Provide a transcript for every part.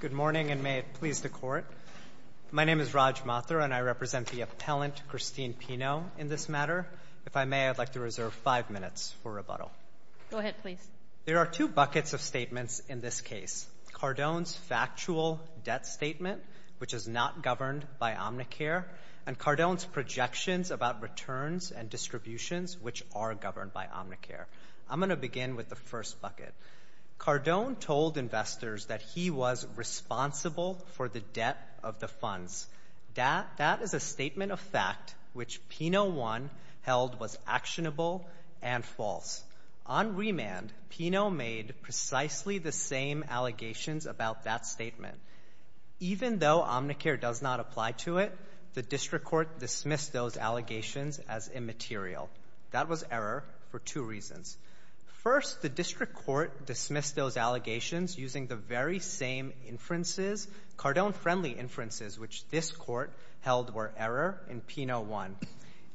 Good morning, and may it please the Court. My name is Raj Mathur, and I represent the appellant, Christine Pino, in this matter. If I may, I'd like to reserve five minutes for rebuttal. Go ahead, please. There are two buckets of statements in this case, Cardone's factual debt statement, which is not governed by Omnicare, and Cardone's projections about returns and distributions, which are governed by Omnicare. I'm going to begin with the first bucket. Cardone told investors that he was responsible for the debt of the funds. That is a statement of fact, which Pino 1 held was actionable and false. On remand, Pino made precisely the same allegations about that statement. Even though Omnicare does not apply to it, the District Court dismissed those allegations as immaterial. That was error for two reasons. First, the District Court dismissed those allegations using the very same inferences, Cardone-friendly inferences, which this Court held were error in Pino 1.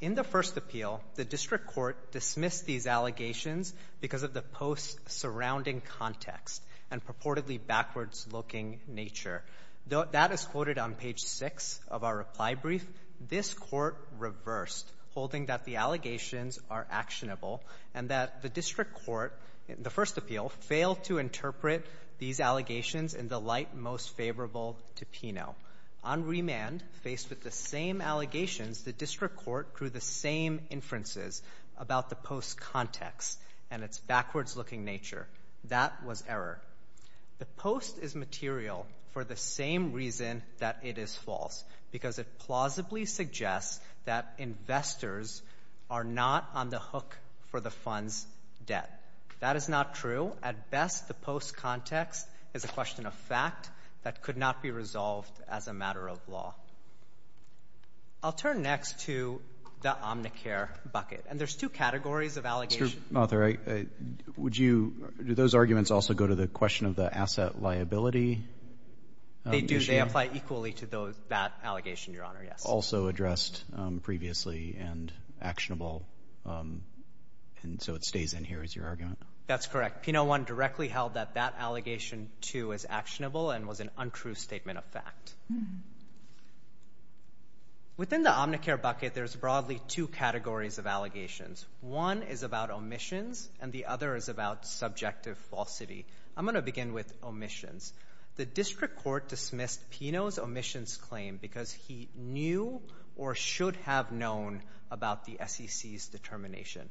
In the first appeal, the District Court dismissed these allegations because of the post-surrounding context and purportedly backwards-looking nature. That is quoted on page 6 of our reply brief. This Court reversed, holding that the allegations are actionable and that the District Court, the first appeal, failed to interpret these allegations in the light most favorable to On remand, faced with the same allegations, the District Court drew the same inferences about the post's context and its backwards-looking nature. That was error. The post is material for the same reason that it is false, because it plausibly suggests that investors are not on the hook for the fund's debt. That is not true. At best, the post's context is a question of fact that could not be resolved as a matter of law. I'll turn next to the Omnicare bucket. And there's two categories of allegations. Mr. Mather, would you, do those arguments also go to the question of the asset liability issue? They do. They apply equally to that allegation, Your Honor, yes. Also addressed previously and actionable, and so it stays in here as your argument? That's correct. Pino 1 directly held that that allegation, too, is actionable and was an untrue statement of fact. Within the Omnicare bucket, there's broadly two categories of allegations. One is about omissions, and the other is about subjective falsity. I'm going to begin with omissions. The district court dismissed Pino's omissions claim because he knew or should have known about the SEC's determination.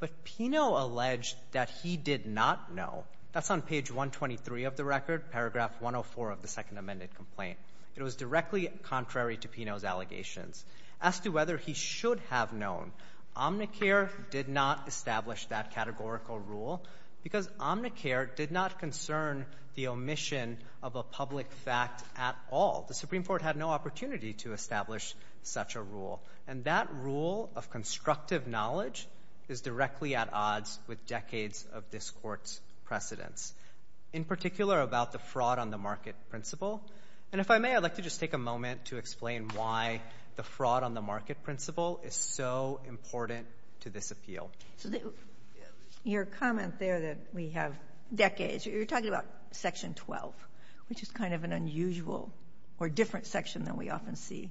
But Pino alleged that he did not know. That's on page 123 of the record, paragraph 104 of the second amended complaint. It was directly contrary to Pino's allegations. As to whether he should have known, Omnicare did not establish that categorical rule because Omnicare did not concern the omission of a public fact at all. The Supreme Court had no opportunity to establish such a rule. And that rule of constructive knowledge is directly at odds with decades of this court's precedence, in particular about the fraud on the market principle. And if I may, I'd like to just take a moment to explain why the fraud on the market principle is so important to this appeal. Your comment there that we have decades, you're talking about section 12, which is kind of an unusual or different section than we often see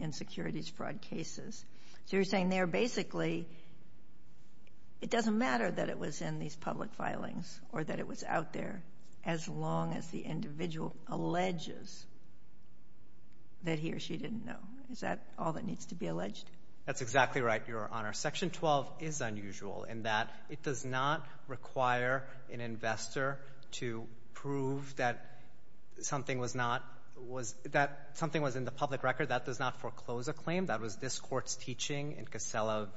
in securities fraud cases. So you're saying there basically it doesn't matter that it was in these public filings or that it was out there as long as the individual alleges that he or she didn't know. Is that all that needs to be alleged? That's exactly right, Your Honor. Section 12 is unusual in that it does not require an investor to prove that something was not, that something was in the public record. That does not foreclose a claim. That was this court's teaching in Casella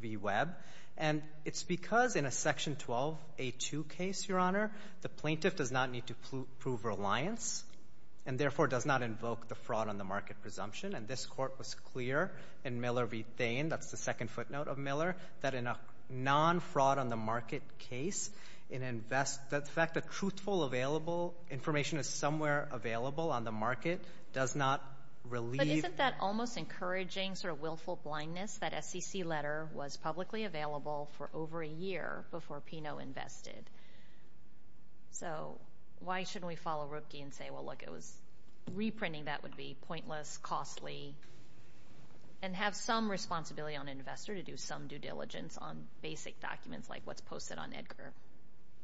v. Webb. And it's because in a section 12A2 case, Your Honor, the plaintiff does not need to prove reliance and therefore does not invoke the fraud on the market presumption. And this court was clear in Miller v. Thain, that's the second footnote of Miller, that in a non-fraud on the market case, an investor, the fact that truthful, available information is somewhere available on the market does not relieve. But isn't that almost encouraging, sort of willful blindness, that SEC letter was publicly available for over a year before P&O invested? So why shouldn't we follow Rupke and say, well, look, it was, reprinting that would be pointless, costly, and have some responsibility on an investor to do some due diligence on basic documents like what's posted on EDGAR?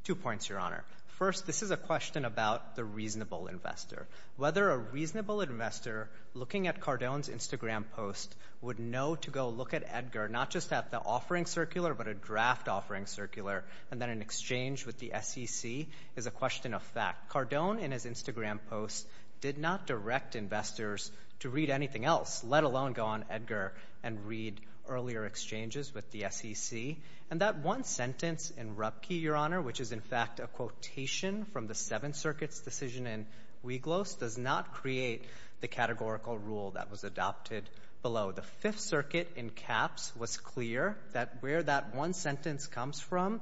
Two points, Your Honor. First, this is a question about the reasonable investor. Whether a reasonable investor looking at Cardone's Instagram post would know to go look at EDGAR, not just at the offering circular, but a draft offering circular, and then in exchange with the SEC is a question of fact. Cardone in his Instagram post did not direct investors to read anything else, let alone go on EDGAR and read earlier exchanges with the SEC. And that one sentence in Rupke, Your Honor, which is in fact a quotation from the Seventh Circuit post, does not create the categorical rule that was adopted below. The Fifth Circuit, in caps, was clear that where that one sentence comes from,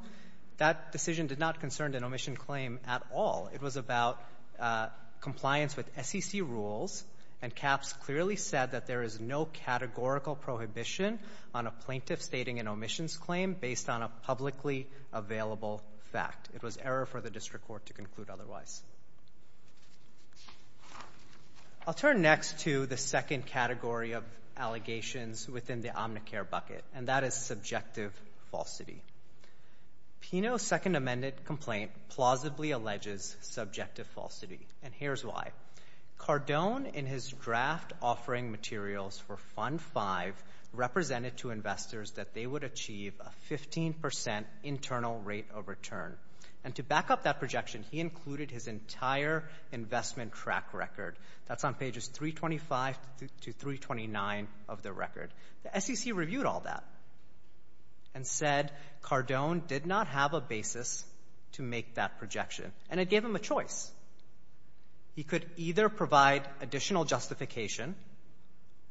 that decision did not concern an omission claim at all. It was about compliance with SEC rules, and caps clearly said that there is no categorical prohibition on a plaintiff stating an omissions claim based on a publicly available fact. It was error for the district court to conclude otherwise. I'll turn next to the second category of allegations within the Omnicare bucket, and that is subjective falsity. Pino's Second Amendment complaint plausibly alleges subjective falsity, and here's why. Cardone in his draft offering materials for Fund 5 represented to investors that they would achieve a 15% internal rate of return. And to back up that projection, he included his entire investment track record. That's on pages 325 to 329 of the record. The SEC reviewed all that and said Cardone did not have a basis to make that projection, and it gave him a choice. He could either provide additional justification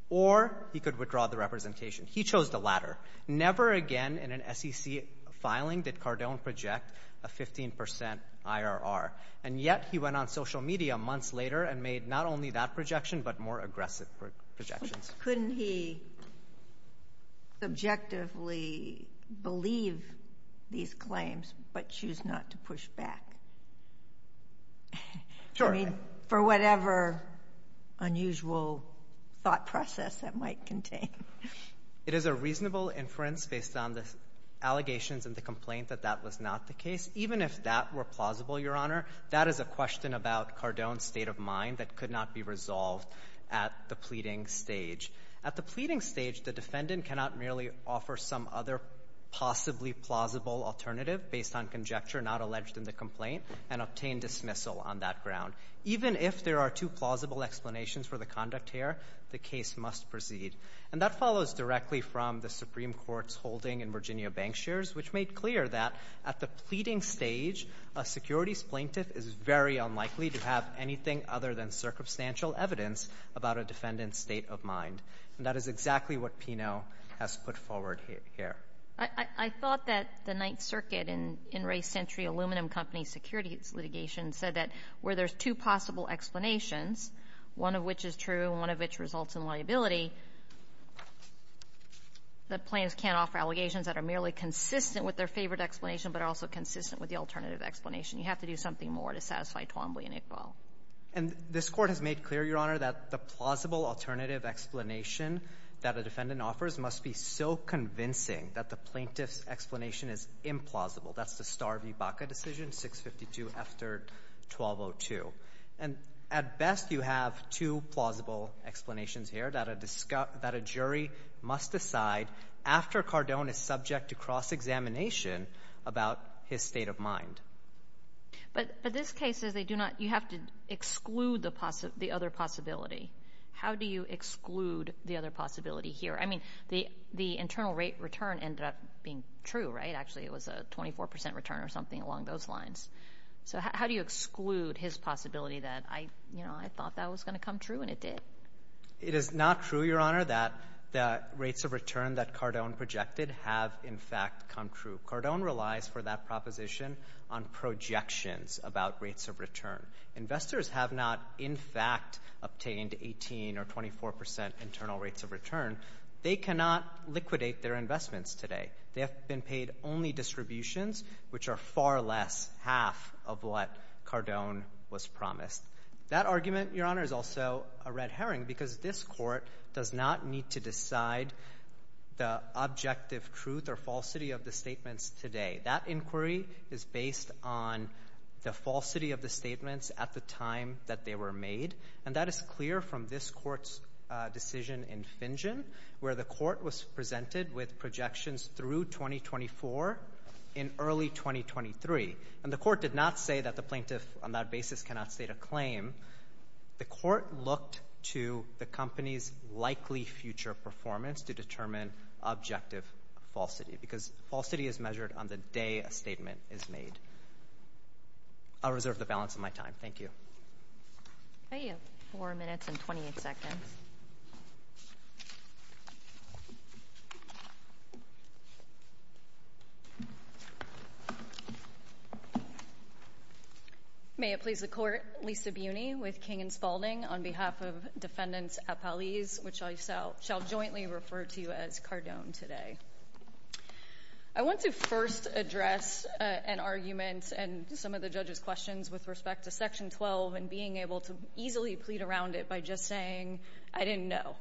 or he could withdraw the representation. He chose the latter. Never again in an SEC filing did Cardone project a 15% IRR, and yet he went on social media months later and made not only that projection, but more aggressive projections. Couldn't he subjectively believe these claims but choose not to push back? Sure. I mean, for whatever unusual thought process that might contain. It is a reasonable inference based on the allegations in the complaint that that was not the case. Even if that were plausible, Your Honor, that is a question about Cardone's state of mind that could not be resolved at the pleading stage. At the pleading stage, the defendant cannot merely offer some other possibly plausible alternative based on conjecture not alleged in the complaint and obtain dismissal on that ground. Even if there are two plausible explanations for the conduct here, the case must proceed. And that follows directly from the Supreme Court's holding in Virginia Bankshares, which made clear that at the pleading stage, a securities plaintiff is very unlikely to have anything other than circumstantial evidence about a defendant's state of mind. And that is exactly what Pinot has put forward here. I thought that the Ninth Circuit in Ray Century Aluminum Company's securities litigation said that where there's two possible explanations, one of which is true, one of which results in liability, the plaintiffs can't offer allegations that are merely consistent with their favored explanation, but are also consistent with the alternative explanation. You have to do something more to satisfy Twombly and Iqbal. And this Court has made clear, Your Honor, that the plausible alternative explanation that a defendant offers must be so convincing that the plaintiff's explanation is implausible. That's the Starr v. Baca decision, 652 after 1202. And at best, you have two plausible explanations here that a jury must decide after Cardone is subject to cross-examination about his state of mind. But in this case, you have to exclude the other possibility. How do you exclude the other possibility here? I mean, the internal rate return ended up being true, right? Actually, it was a 24 percent return or something along those lines. So how do you exclude his possibility that, you know, I thought that was going to come true and it did? It is not true, Your Honor, that the rates of return that Cardone projected have in fact come true. Cardone relies for that proposition on projections about rates of return. Investors have not in fact obtained 18 or 24 percent internal rates of return. They cannot liquidate their investments today. They have been paid only distributions, which are far less half of what Cardone was promised. That argument, Your Honor, is also a red herring because this court does not need to decide the objective truth or falsity of the statements today. That inquiry is based on the falsity of the statements at the time that they were made. And that is clear from this court's decision in Fingen, where the court was presented with projections through 2024 in early 2023. And the court did not say that the plaintiff on that basis cannot state a claim. The court looked to the company's likely future performance to determine objective falsity because falsity is measured on the day a statement is made. I'll reserve the balance of my time. Thank you. I have 4 minutes and 28 seconds. May it please the Court, Lisa Buny with King & Spalding on behalf of defendants at Paliz, which I shall jointly refer to as Cardone today. I want to first address an argument and some of the judge's questions with respect to Section 12 and being able to easily plead around it by just saying, I didn't know.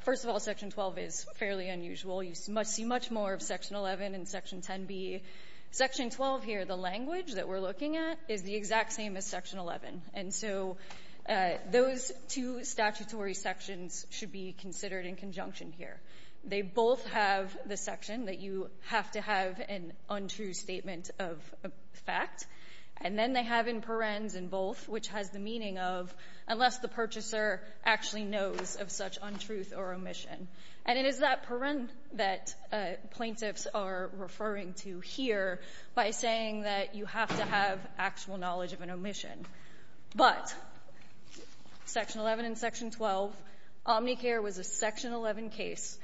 First of all, Section 12 is fairly unusual. You must see much more of Section 11 and Section 10b. Section 12 here, the language that we're looking at is the exact same as Section 11. And so those two statutory sections should be considered in conjunction here. They both have the section that you have to have an untrue statement of fact. And then they have in parens in both, which has the meaning of, unless the purchaser actually knows of such untruth or omission. And it is that parent that plaintiffs are referring to here by saying that you have to have actual knowledge of an omission. But Section 11 and Section 12, Omnicare was a Section 11 case.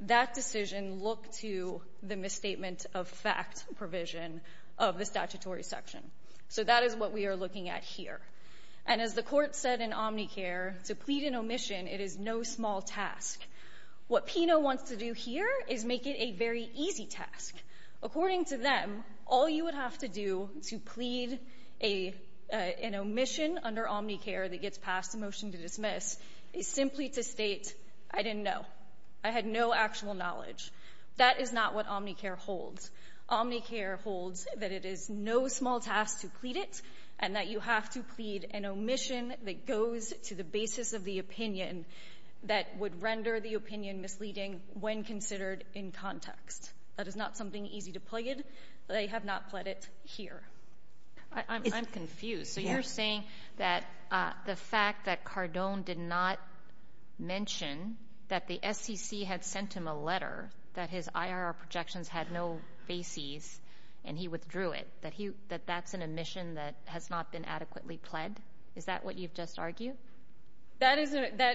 That decision looked to the misstatement of fact provision of the statutory section. So that is what we are looking at here. And as the court said in Omnicare, to plead an omission, it is no small task. What Pino wants to do here is make it a very easy task. According to them, all you would have to do to plead an omission under Omnicare that gets passed a motion to dismiss is simply to state, I didn't know. I had no actual knowledge. That is not what Omnicare holds. Omnicare holds that it is no small task to plead it, and that you have to plead an omission that goes to the basis of the opinion that would render the opinion misleading when considered in context. That is not something easy to plead. They have not pled it here. I'm confused. So you're saying that the fact that Cardone did not mention that the SEC had sent him a letter, that his IRR projections had no faces, and he withdrew it, that that's an omission that has not been adequately pled? Is that what you've just argued? That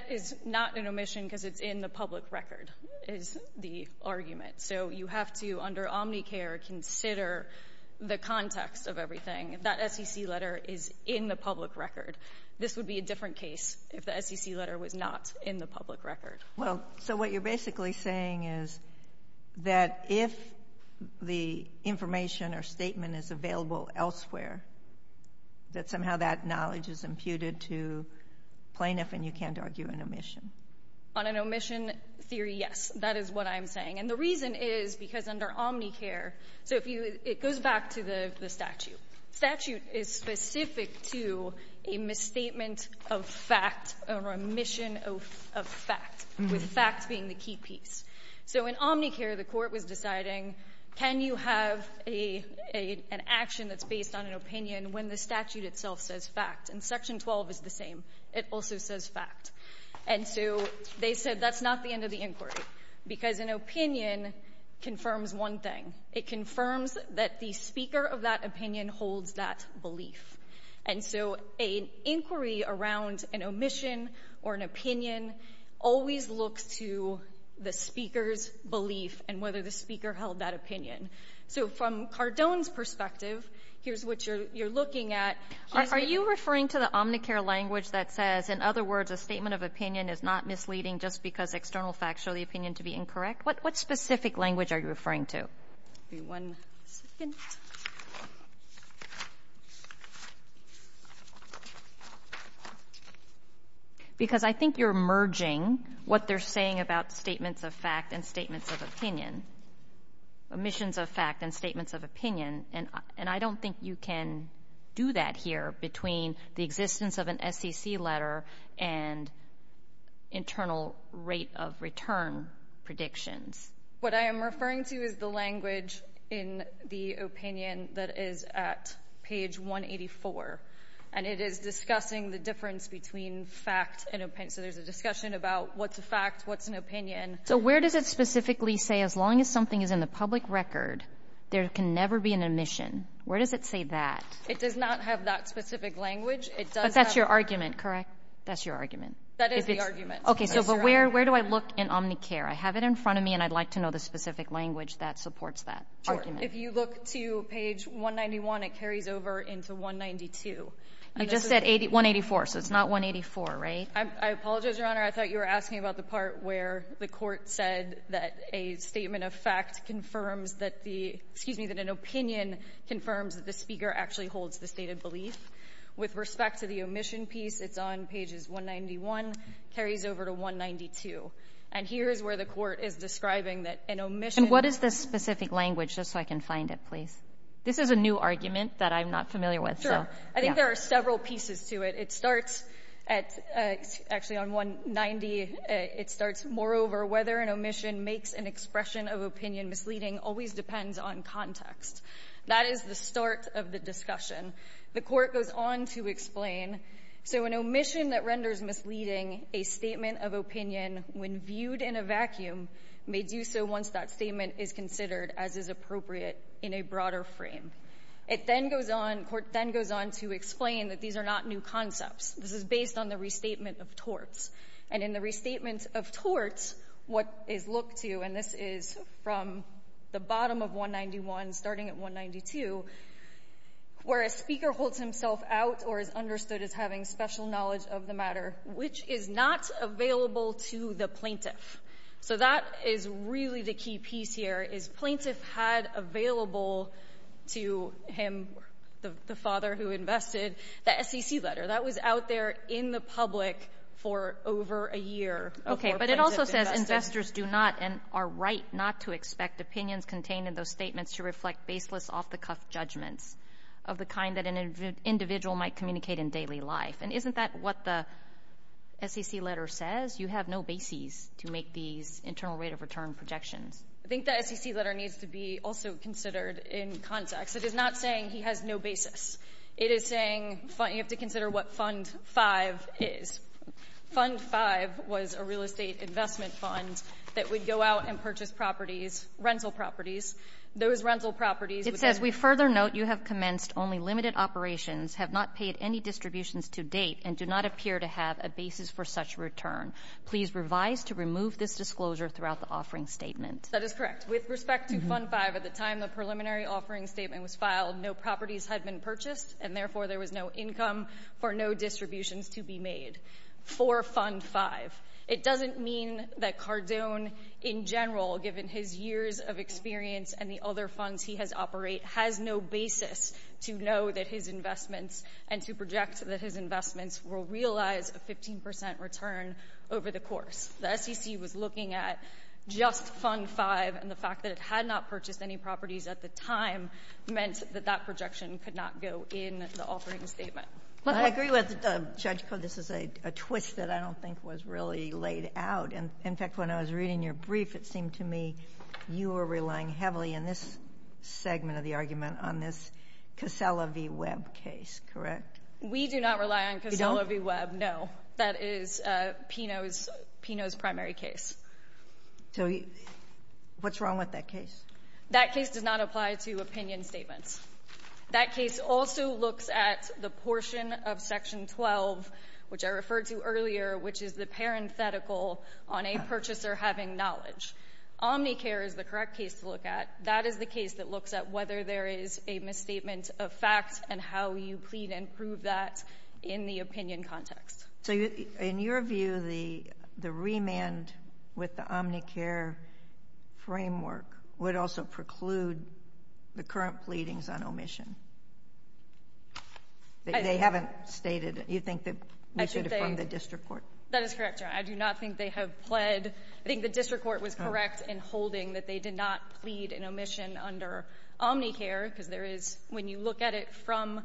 is not an omission because it's in the public record, is the argument. So you have to, under Omnicare, consider the context of everything. That SEC letter is in the public record. This would be a different case if the SEC letter was not in the public record. Well, so what you're basically saying is that if the information or statement is available elsewhere, that somehow that knowledge is imputed to plaintiff and you can't argue an omission. On an omission theory, yes. That is what I'm saying. And the reason is because under Omnicare, so if you, it goes back to the statute. Statute is specific to a misstatement of fact or omission of fact, with fact being the key piece. So in Omnicare, the court was deciding, can you have an action that's based on an opinion when the statute itself says fact, and section 12 is the same. It also says fact. And so they said that's not the end of the inquiry, because an opinion confirms one thing. It confirms that the speaker of that opinion holds that belief. And so an inquiry around an omission or an opinion always looks to the speaker's belief and whether the speaker held that opinion. So from Cardone's perspective, here's what you're looking at. Are you referring to the Omnicare language that says, in other words, a statement of opinion is not misleading just because external facts show the opinion to be incorrect? What specific language are you referring to? Give me one second. Because I think you're merging what they're saying about statements of fact and statements of opinion, omissions of fact and statements of opinion. And I don't think you can do that here between the existence of an SEC letter and internal rate of return predictions. What I am referring to is the language in the opinion that is at page 184. And it is discussing the difference between fact and opinion. So there's a discussion about what's a fact, what's an opinion. So where does it specifically say, as long as something is in the public record, there can never be an omission? Where does it say that? It does not have that specific language. It does have- But that's your argument, correct? That's your argument. That is the argument. Okay, so but where do I look in Omnicare? I have it in front of me, and I'd like to know the specific language that supports that argument. If you look to page 191, it carries over into 192. You just said 184, so it's not 184, right? I apologize, Your Honor, I thought you were asking about the part where the court said that a statement of fact confirms that the, excuse me, that an opinion confirms that the speaker actually holds the stated belief. With respect to the omission piece, it's on pages 191, carries over to 192. And here is where the court is describing that an omission- And what is this specific language, just so I can find it, please? This is a new argument that I'm not familiar with, so- Sure. I think there are several pieces to it. It starts at, actually on 190, it starts, moreover, whether an omission makes an expression of opinion misleading always depends on context. That is the start of the discussion. The court goes on to explain, so an omission that renders misleading a statement of opinion when viewed in a vacuum may do so once that statement is considered as is appropriate in a broader frame. It then goes on, court then goes on to explain that these are not new concepts. This is based on the restatement of torts. And in the restatement of torts, what is looked to, and this is from the bottom of 191, starting at 192, where a speaker holds himself out or is understood as having special knowledge of the matter, which is not available to the plaintiff. So that is really the key piece here, is plaintiff had available to him, the father who invested, the SEC letter. That was out there in the public for over a year before plaintiff invested. Okay. But it also says investors do not and are right not to expect opinions contained in those statements to reflect baseless off-the-cuff judgments of the kind that an individual might communicate in daily life. And isn't that what the SEC letter says? You have no bases to make these internal rate of return projections. I think the SEC letter needs to be also considered in context. It is not saying he has no basis. It is saying you have to consider what Fund 5 is. Fund 5 was a real estate investment fund that would go out and purchase rental properties. Those rental properties- It says we further note you have commenced only limited operations, have not paid any distributions to date, and do not appear to have a basis for such return. Please revise to remove this disclosure throughout the offering statement. That is correct. With respect to Fund 5, at the time the preliminary offering statement was filed, no properties had been purchased, and therefore there was no income for no distributions to be made for Fund 5. It doesn't mean that Cardone, in general, given his years of experience and the other funds he has operated, has no basis to know that his investments and to project that his investments will realize a 15% return over the course. The SEC was looking at just Fund 5, and the fact that it had not purchased any properties at the time meant that that projection could not go in the offering statement. I agree with Judge Koh. This is a twist that I don't think was really laid out. In fact, when I was reading your brief, it seemed to me you were relying heavily in this segment of the argument on this Casella v. Webb case, correct? We do not rely on Casella v. Webb, no. That is Pino's primary case. So what's wrong with that case? That case does not apply to opinion statements. That case also looks at the portion of Section 12, which I referred to earlier, which is the parenthetical on a purchaser having knowledge. Omnicare is the correct case to look at. That is the case that looks at whether there is a misstatement of facts and how you plead and prove that in the opinion context. So in your view, the remand with the Omnicare framework, would also preclude the current pleadings on omission? They haven't stated, you think that we should affirm the district court? That is correct, Your Honor. I do not think they have pled, I think the district court was correct in holding that they did not plead an omission under Omnicare, because there is, when you look at it from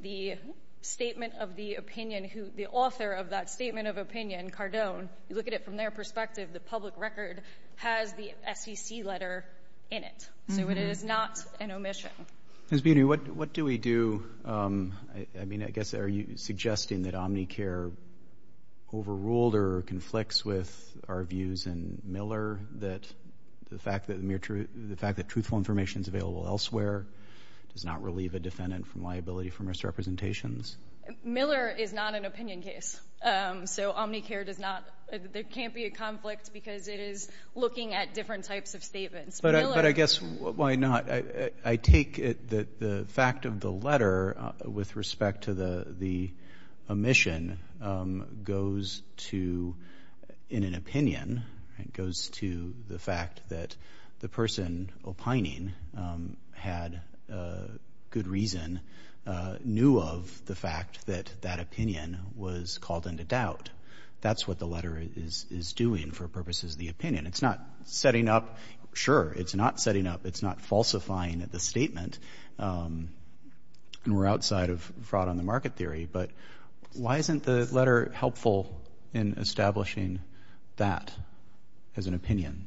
the statement of the opinion, the author of that statement of opinion, Cardone, you look at it from their perspective, the public record has the SEC letter in it, so it is not an omission. Ms. Beattie, what do we do, I mean, I guess, are you suggesting that Omnicare overruled or conflicts with our views in Miller, that the fact that the mere truth, the fact that truthful information is available elsewhere does not relieve a defendant from liability for misrepresentations? Miller is not an opinion case. So Omnicare does not, there can't be a conflict because it is looking at different types of statements. Miller. But I guess, why not? I take it that the fact of the letter with respect to the omission goes to, in an opinion, it goes to the fact that the person opining had good reason, knew of the fact that that opinion was called into doubt. That's what the letter is doing for purposes of the opinion. It's not setting up, sure, it's not setting up, it's not falsifying the statement. And we're outside of fraud on the market theory, but why isn't the letter helpful in establishing that as an opinion?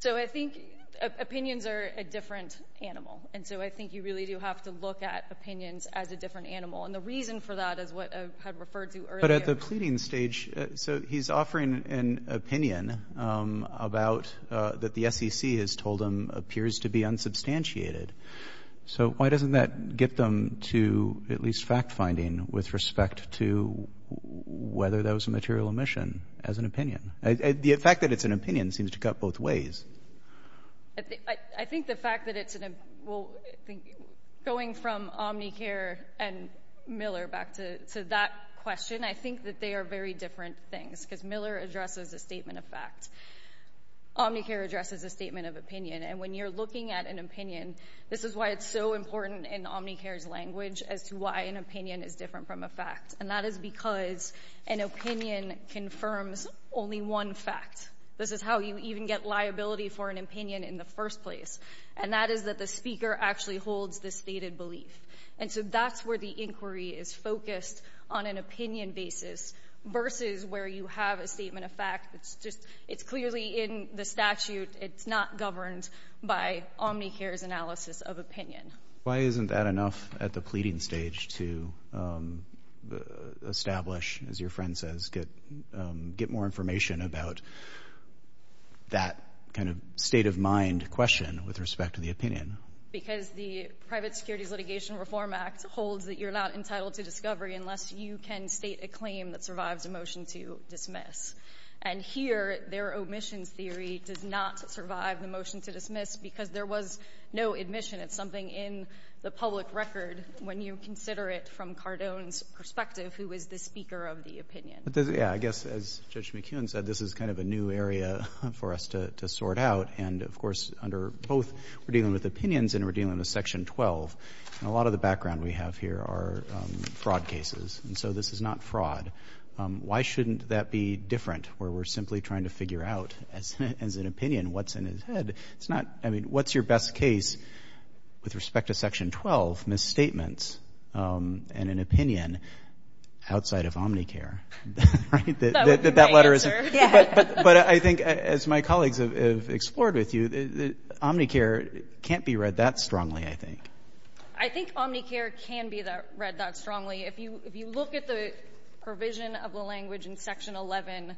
So I think opinions are a different animal. And so I think you really do have to look at opinions as a different animal. And the reason for that is what I had referred to earlier. But at the pleading stage, so he's offering an opinion about, that the SEC has told him appears to be unsubstantiated. So why doesn't that get them to at least fact finding with respect to whether that was a material omission as an opinion? The fact that it's an opinion seems to cut both ways. I think the fact that it's an, well, I think going from Omnicare and Miller back to that question, I think that they are very different things. because Miller addresses a statement of fact, Omnicare addresses a statement of opinion, and when you're looking at an opinion, this is why it's so important in Omnicare's language as to why an opinion is different from a fact. And that is because an opinion confirms only one fact. This is how you even get liability for an opinion in the first place. And that is that the speaker actually holds the stated belief. And so that's where the inquiry is focused on an opinion basis versus where you have a statement of fact that's just, it's clearly in the statute. It's not governed by Omnicare's analysis of opinion. Why isn't that enough at the pleading stage to establish, as your friend says, get more information about that kind of state of mind question with respect to the opinion? Because the Private Securities Litigation Reform Act holds that you're not entitled to discovery unless you can state a claim that survives a motion to dismiss. And here, their omissions theory does not survive the motion to dismiss because there was no admission. It's something in the public record when you consider it from Cardone's perspective, who is the speaker of the opinion. Yeah, I guess as Judge McKeon said, this is kind of a new area for us to sort out. And of course, under both, we're dealing with opinions and we're dealing with Section 12. And a lot of the background we have here are fraud cases. And so this is not fraud. Why shouldn't that be different where we're simply trying to figure out as an opinion what's in his head? It's not, I mean, what's your best case with respect to Section 12? I think that would be my answer, yeah. But I think as my colleagues have explored with you, Omnicare can't be read that strongly, I think. I think Omnicare can be read that strongly. If you look at the provision of the language in Section 11,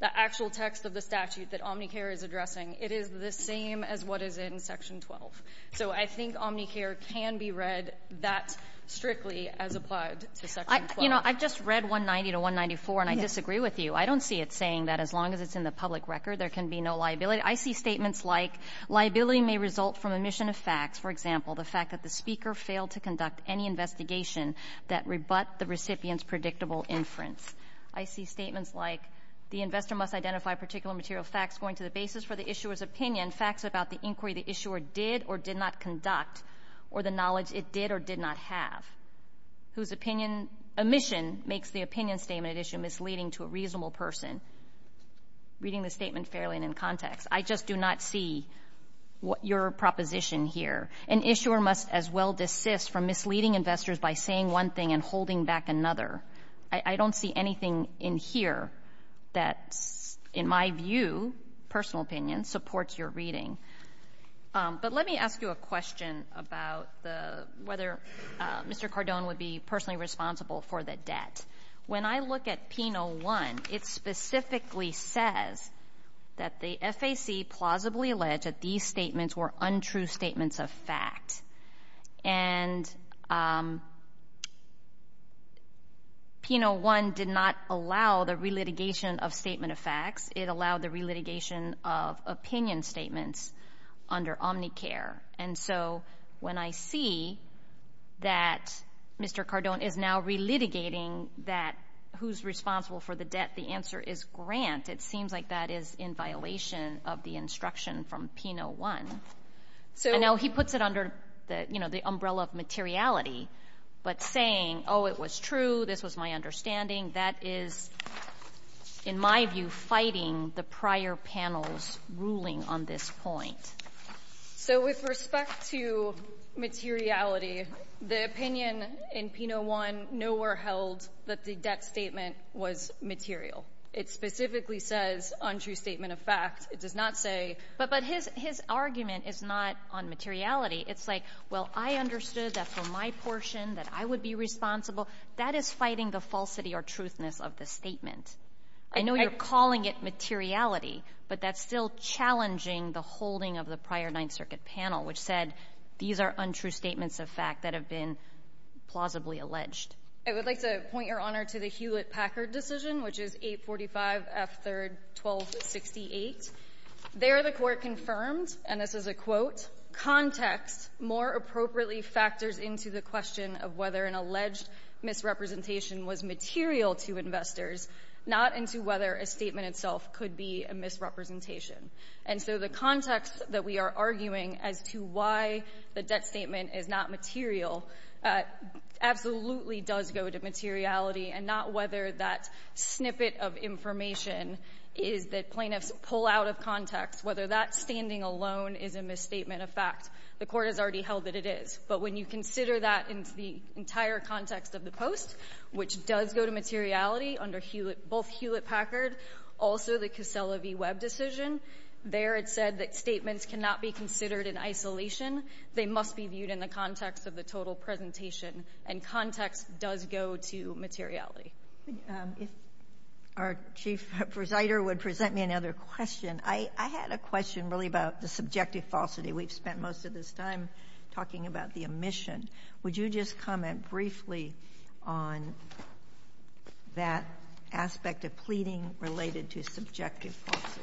the actual text of the statute that Omnicare is addressing, it is the same as what is in Section 12. So I think Omnicare can be read that strictly as applied to Section 12. You know, I've just read 190 to 194, and I disagree with you. I don't see it saying that as long as it's in the public record, there can be no liability. I see statements like, liability may result from omission of facts, for example, the fact that the speaker failed to conduct any investigation that rebut the recipient's predictable inference. I see statements like, the investor must identify particular material facts going to the basis for the issuer's opinion, facts about the inquiry the issuer did or did not conduct, or the knowledge it did or did not have, whose omission makes the opinion statement at issue misleading to a reasonable person, reading the statement fairly and in context. I just do not see your proposition here. An issuer must as well desist from misleading investors by saying one thing and holding back another. I don't see anything in here that, in my view, personal opinion, supports your reading. But let me ask you a question about whether Mr. Cardone would be personally responsible for the debt. When I look at Penal 1, it specifically says that the FAC plausibly alleged that these statements were untrue statements of fact. And Penal 1 did not allow the re-litigation of statement of facts. It allowed the re-litigation of opinion statements under Omnicare. And so, when I see that Mr. Cardone is now re-litigating that who's responsible for the debt, the answer is Grant. It seems like that is in violation of the instruction from Penal 1. I know he puts it under the umbrella of materiality, but saying, oh, it was true, this was my understanding, that is, in my view, fighting the prior panel's ruling on this point. So with respect to materiality, the opinion in Penal 1 nowhere held that the debt statement was material. It specifically says untrue statement of fact. It does not say – But his argument is not on materiality. It's like, well, I understood that for my portion that I would be responsible. That is fighting the falsity or truthness of the statement. I know you're calling it materiality, but that's still challenging the holding of the prior Ninth Circuit panel, which said these are untrue statements of fact that have been plausibly alleged. I would like to point, Your Honor, to the Hewlett-Packard decision, which is 845F3-1268. There, the Court confirmed, and this is a quote, context more appropriately factors into the question of whether an alleged misrepresentation was material to investors, not into whether a statement itself could be a misrepresentation. And so the context that we are arguing as to why the debt statement is not material absolutely does go to materiality, and not whether that snippet of information is that plaintiffs pull out of context, whether that standing alone is a misstatement of fact. The Court has already held that it is. But when you consider that into the entire context of the post, which does go to materiality under both Hewlett-Packard, also the Casella v. Webb decision, there it said that statements cannot be considered in isolation. They must be viewed in the context of the total presentation, and context does go to materiality. If our chief presider would present me another question, I had a question really about the subjective falsity. We've spent most of this time talking about the omission. Would you just comment briefly on that aspect of pleading related to subjective falsity?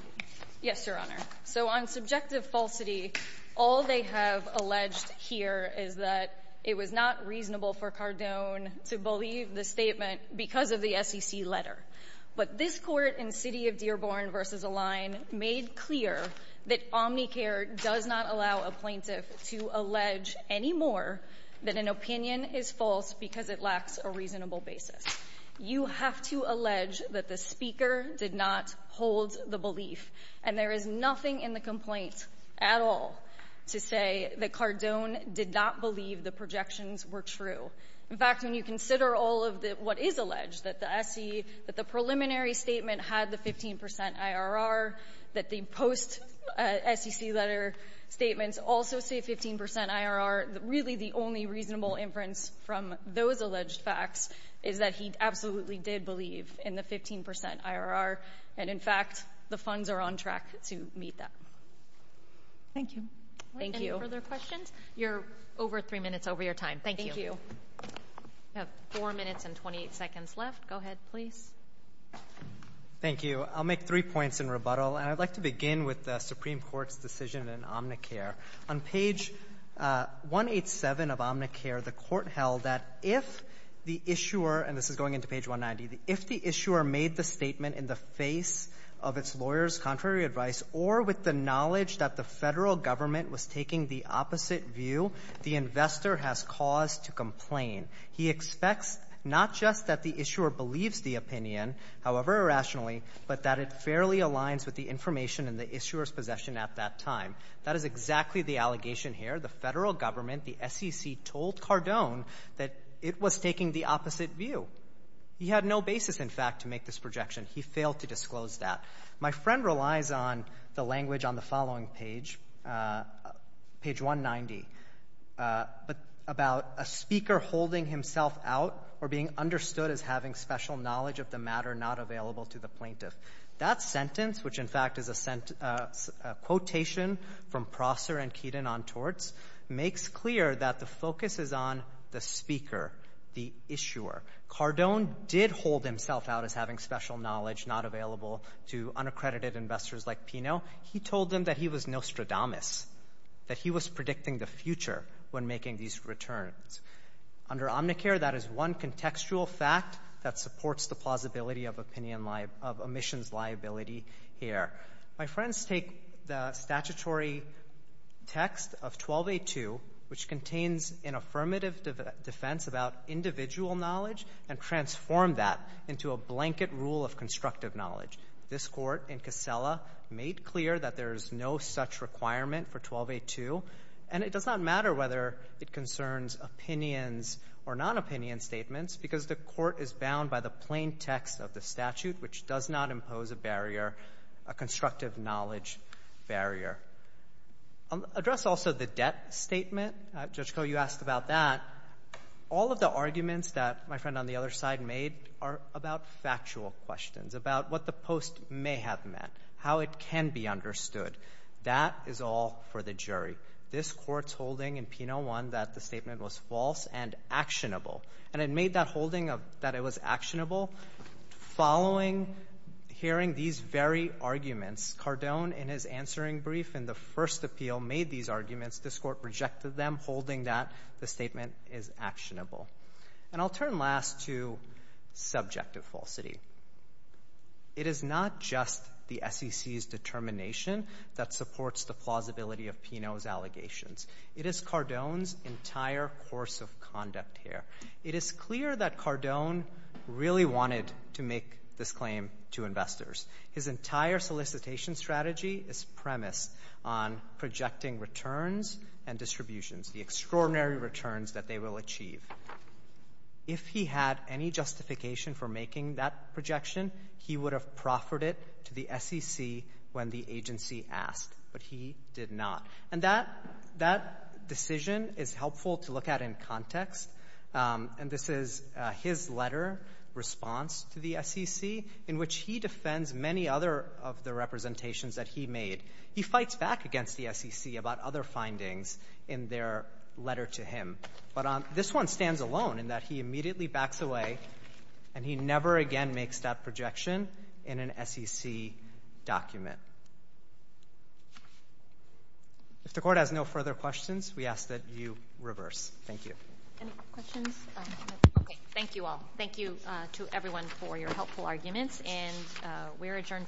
Yes, Your Honor. So on subjective falsity, all they have alleged here is that it was not reasonable for Cardone to believe the statement because of the SEC letter. But this Court in City of Dearborn v. Align made clear that Omnicare does not allow a plaintiff to allege anymore that an opinion is false because it lacks a reasonable basis. You have to allege that the speaker did not hold the belief. And there is nothing in the complaint at all to say that Cardone did not believe the projections were true. In fact, when you consider all of what is alleged, that the preliminary statement had the 15 percent IRR, that the post-SEC letter statements also say 15 percent IRR, really the only reasonable inference from those alleged facts is that he absolutely did believe in the 15 percent IRR, and in fact, the funds are on track to meet that. Thank you. Thank you. Any further questions? You're over three minutes over your time. Thank you. Thank you. We have four minutes and 28 seconds left. Go ahead, please. Thank you. I'll make three points in rebuttal. And I'd like to begin with the Supreme Court's decision in Omnicare. On page 187 of Omnicare, the Court held that if the issuer—and this is going into page 190—if the issuer made the statement in the face of its lawyer's contrary advice or with the knowledge that the federal government was taking the opposite view, the investor has cause to complain. He expects not just that the issuer believes the opinion, however irrationally, but that it fairly aligns with the information in the issuer's possession at that time. That is exactly the allegation here. The federal government, the SEC, told Cardone that it was taking the opposite view. He had no basis, in fact, to make this projection. He failed to disclose that. My friend relies on the language on the following page, page 190, about a speaker holding himself out or being understood as having special knowledge of the matter not available to the plaintiff. That sentence, which in fact is a quotation from Prosser and Keaton on torts, makes clear that the focus is on the speaker, the issuer. Cardone did hold himself out as having special knowledge not available to unaccredited investors like Pino. He told them that he was Nostradamus, that he was predicting the future when making these returns. Under Omnicare, that is one contextual fact that supports the plausibility of omissions liability here. My friends take the statutory text of 1282, which contains an affirmative defense about individual knowledge, and transform that into a blanket rule of constructive knowledge. This Court in Casella made clear that there is no such requirement for 1282. And it does not matter whether it concerns opinions or non-opinion statements, because the Court is bound by the plain text of the statute, which does not impose a barrier, a constructive knowledge barrier. Address also the debt statement. Judge Koh, you asked about that. All of the arguments that my friend on the other side made are about factual questions, about what the post may have meant, how it can be understood. That is all for the jury. This Court's holding in Pino 1 that the statement was false and actionable, and it made that holding that it was actionable. Following hearing these very arguments, Cardone, in his answering brief in the first appeal, made these arguments. This Court rejected them, holding that the statement is actionable. And I'll turn last to subjective falsity. It is not just the SEC's determination that supports the plausibility of Pino's allegations. It is Cardone's entire course of conduct here. It is clear that Cardone really wanted to make this claim to investors. His entire solicitation strategy is premised on projecting returns and distributions, the extraordinary returns that they will achieve. If he had any justification for making that projection, he would have proffered it to the SEC when the agency asked, but he did not. And that decision is helpful to look at in context. And this is his letter response to the SEC, in which he defends many other of the representations that he made. He fights back against the SEC about other findings in their letter to him. But this one stands alone in that he immediately backs away, and he never again makes that projection in an SEC document. If the Court has no further questions, we ask that you reverse. Thank you. Any questions? Okay. Thank you all. Thank you to everyone for your helpful arguments, and we are adjourned for the day.